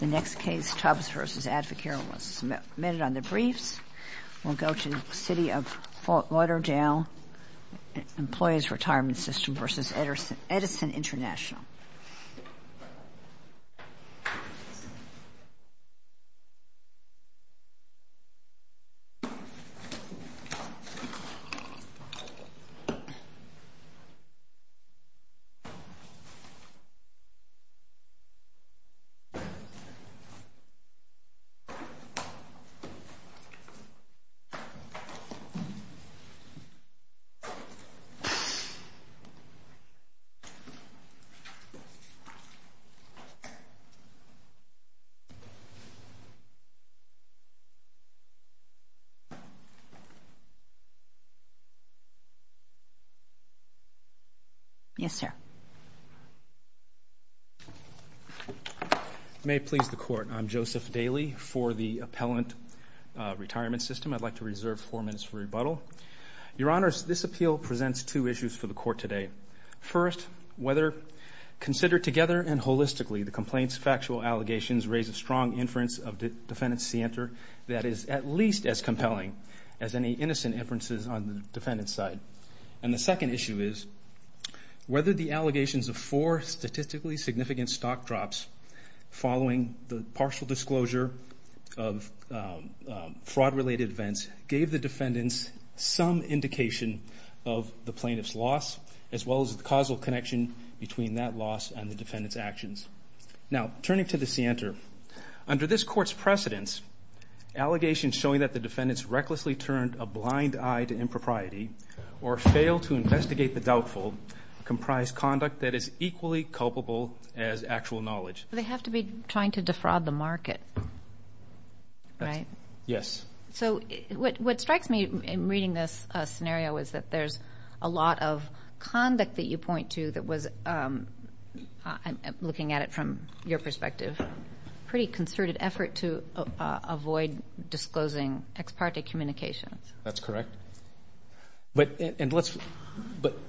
The next case, Tubbs v. Advocaro, was submitted on the briefs. Employees Retirement System v. Edison International. Yes, sir. May it please the Court, I'm Joseph Daley for the Appellant Retirement System. I'd like to reserve four minutes for rebuttal. Your Honors, this appeal presents two issues for the Court today. First, whether considered together and holistically, the complaint's factual allegations raise a strong inference of Defendant Sienter that is at least as compelling as any innocent inferences on the Defendant's side. And the second issue is whether the allegations of four statistically significant stock drops following the defendant's partial disclosure of fraud-related events gave the defendants some indication of the plaintiff's loss, as well as the causal connection between that loss and the defendant's actions. Now, turning to the Sienter, under this Court's precedence, allegations showing that the defendants recklessly turned a blind eye to impropriety or failed to investigate the doubtful comprise conduct that is equally culpable as actual knowledge. They have to be trying to defraud the market, right? Yes. So what strikes me in reading this scenario is that there's a lot of conduct that you point to that was, looking at it from your perspective, pretty concerted effort to avoid disclosing ex parte communications. That's correct. But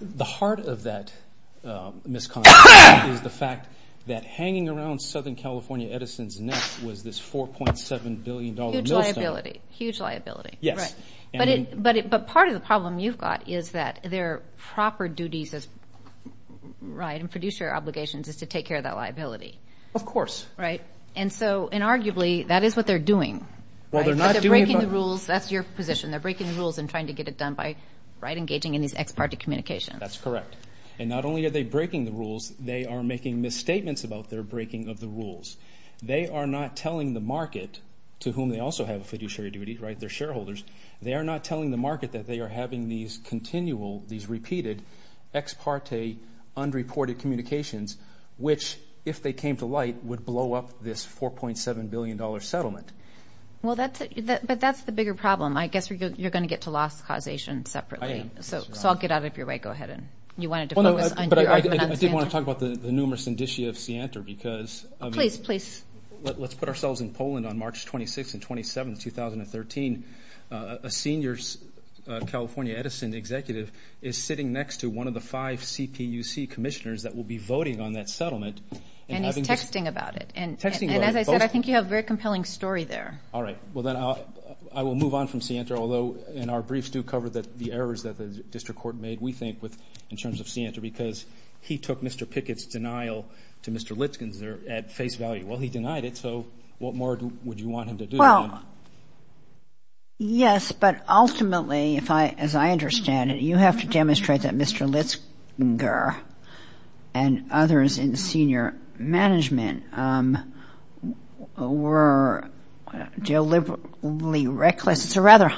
the heart of that misconception is the fact that hanging around Southern California Edison's neck was this $4.7 billion millstone. Huge liability. Yes. But part of the problem you've got is that their proper duties as, right, and producer obligations is to take care of that liability. Of course. Right? And so, and arguably, that is what they're doing. Right? Because they're breaking the rules. That's your position. They're breaking the rules and trying to get it done by, right, engaging in these ex parte communications. That's correct. And not only are they breaking the rules, they are making misstatements about their breaking of the rules. They are not telling the market, to whom they also have a fiduciary duty, right, their shareholders, they are not telling the market that they are having these continual, these repeated ex parte, unreported communications, which, if they came to light, would blow up this $4.7 billion settlement. Well, that's, but that's the bigger problem. I guess you're going to get to loss causation separately. I am. So I'll get out of your way. Go ahead. You wanted to focus on your argument on Siantar. I did want to talk about the numerous indicia of Siantar because, I mean, let's put ourselves in Poland on March 26 and 27, 2013. A senior California Edison executive is sitting next to one of the five CPUC commissioners that will be voting on that settlement. And he's texting about it. And as I said, I think you have a very compelling story there. All right. Well, then I will move on from Siantar, although in our briefs do cover the errors that the district court made, we think, in terms of Siantar, because he took Mr. Pickett's denial to Mr. Litzinger at face value. Well, he denied it, so what more would you want him to do? Well, yes, but ultimately, as I understand it, you have to demonstrate that Mr. Litzinger and others in senior management were deliberately reckless.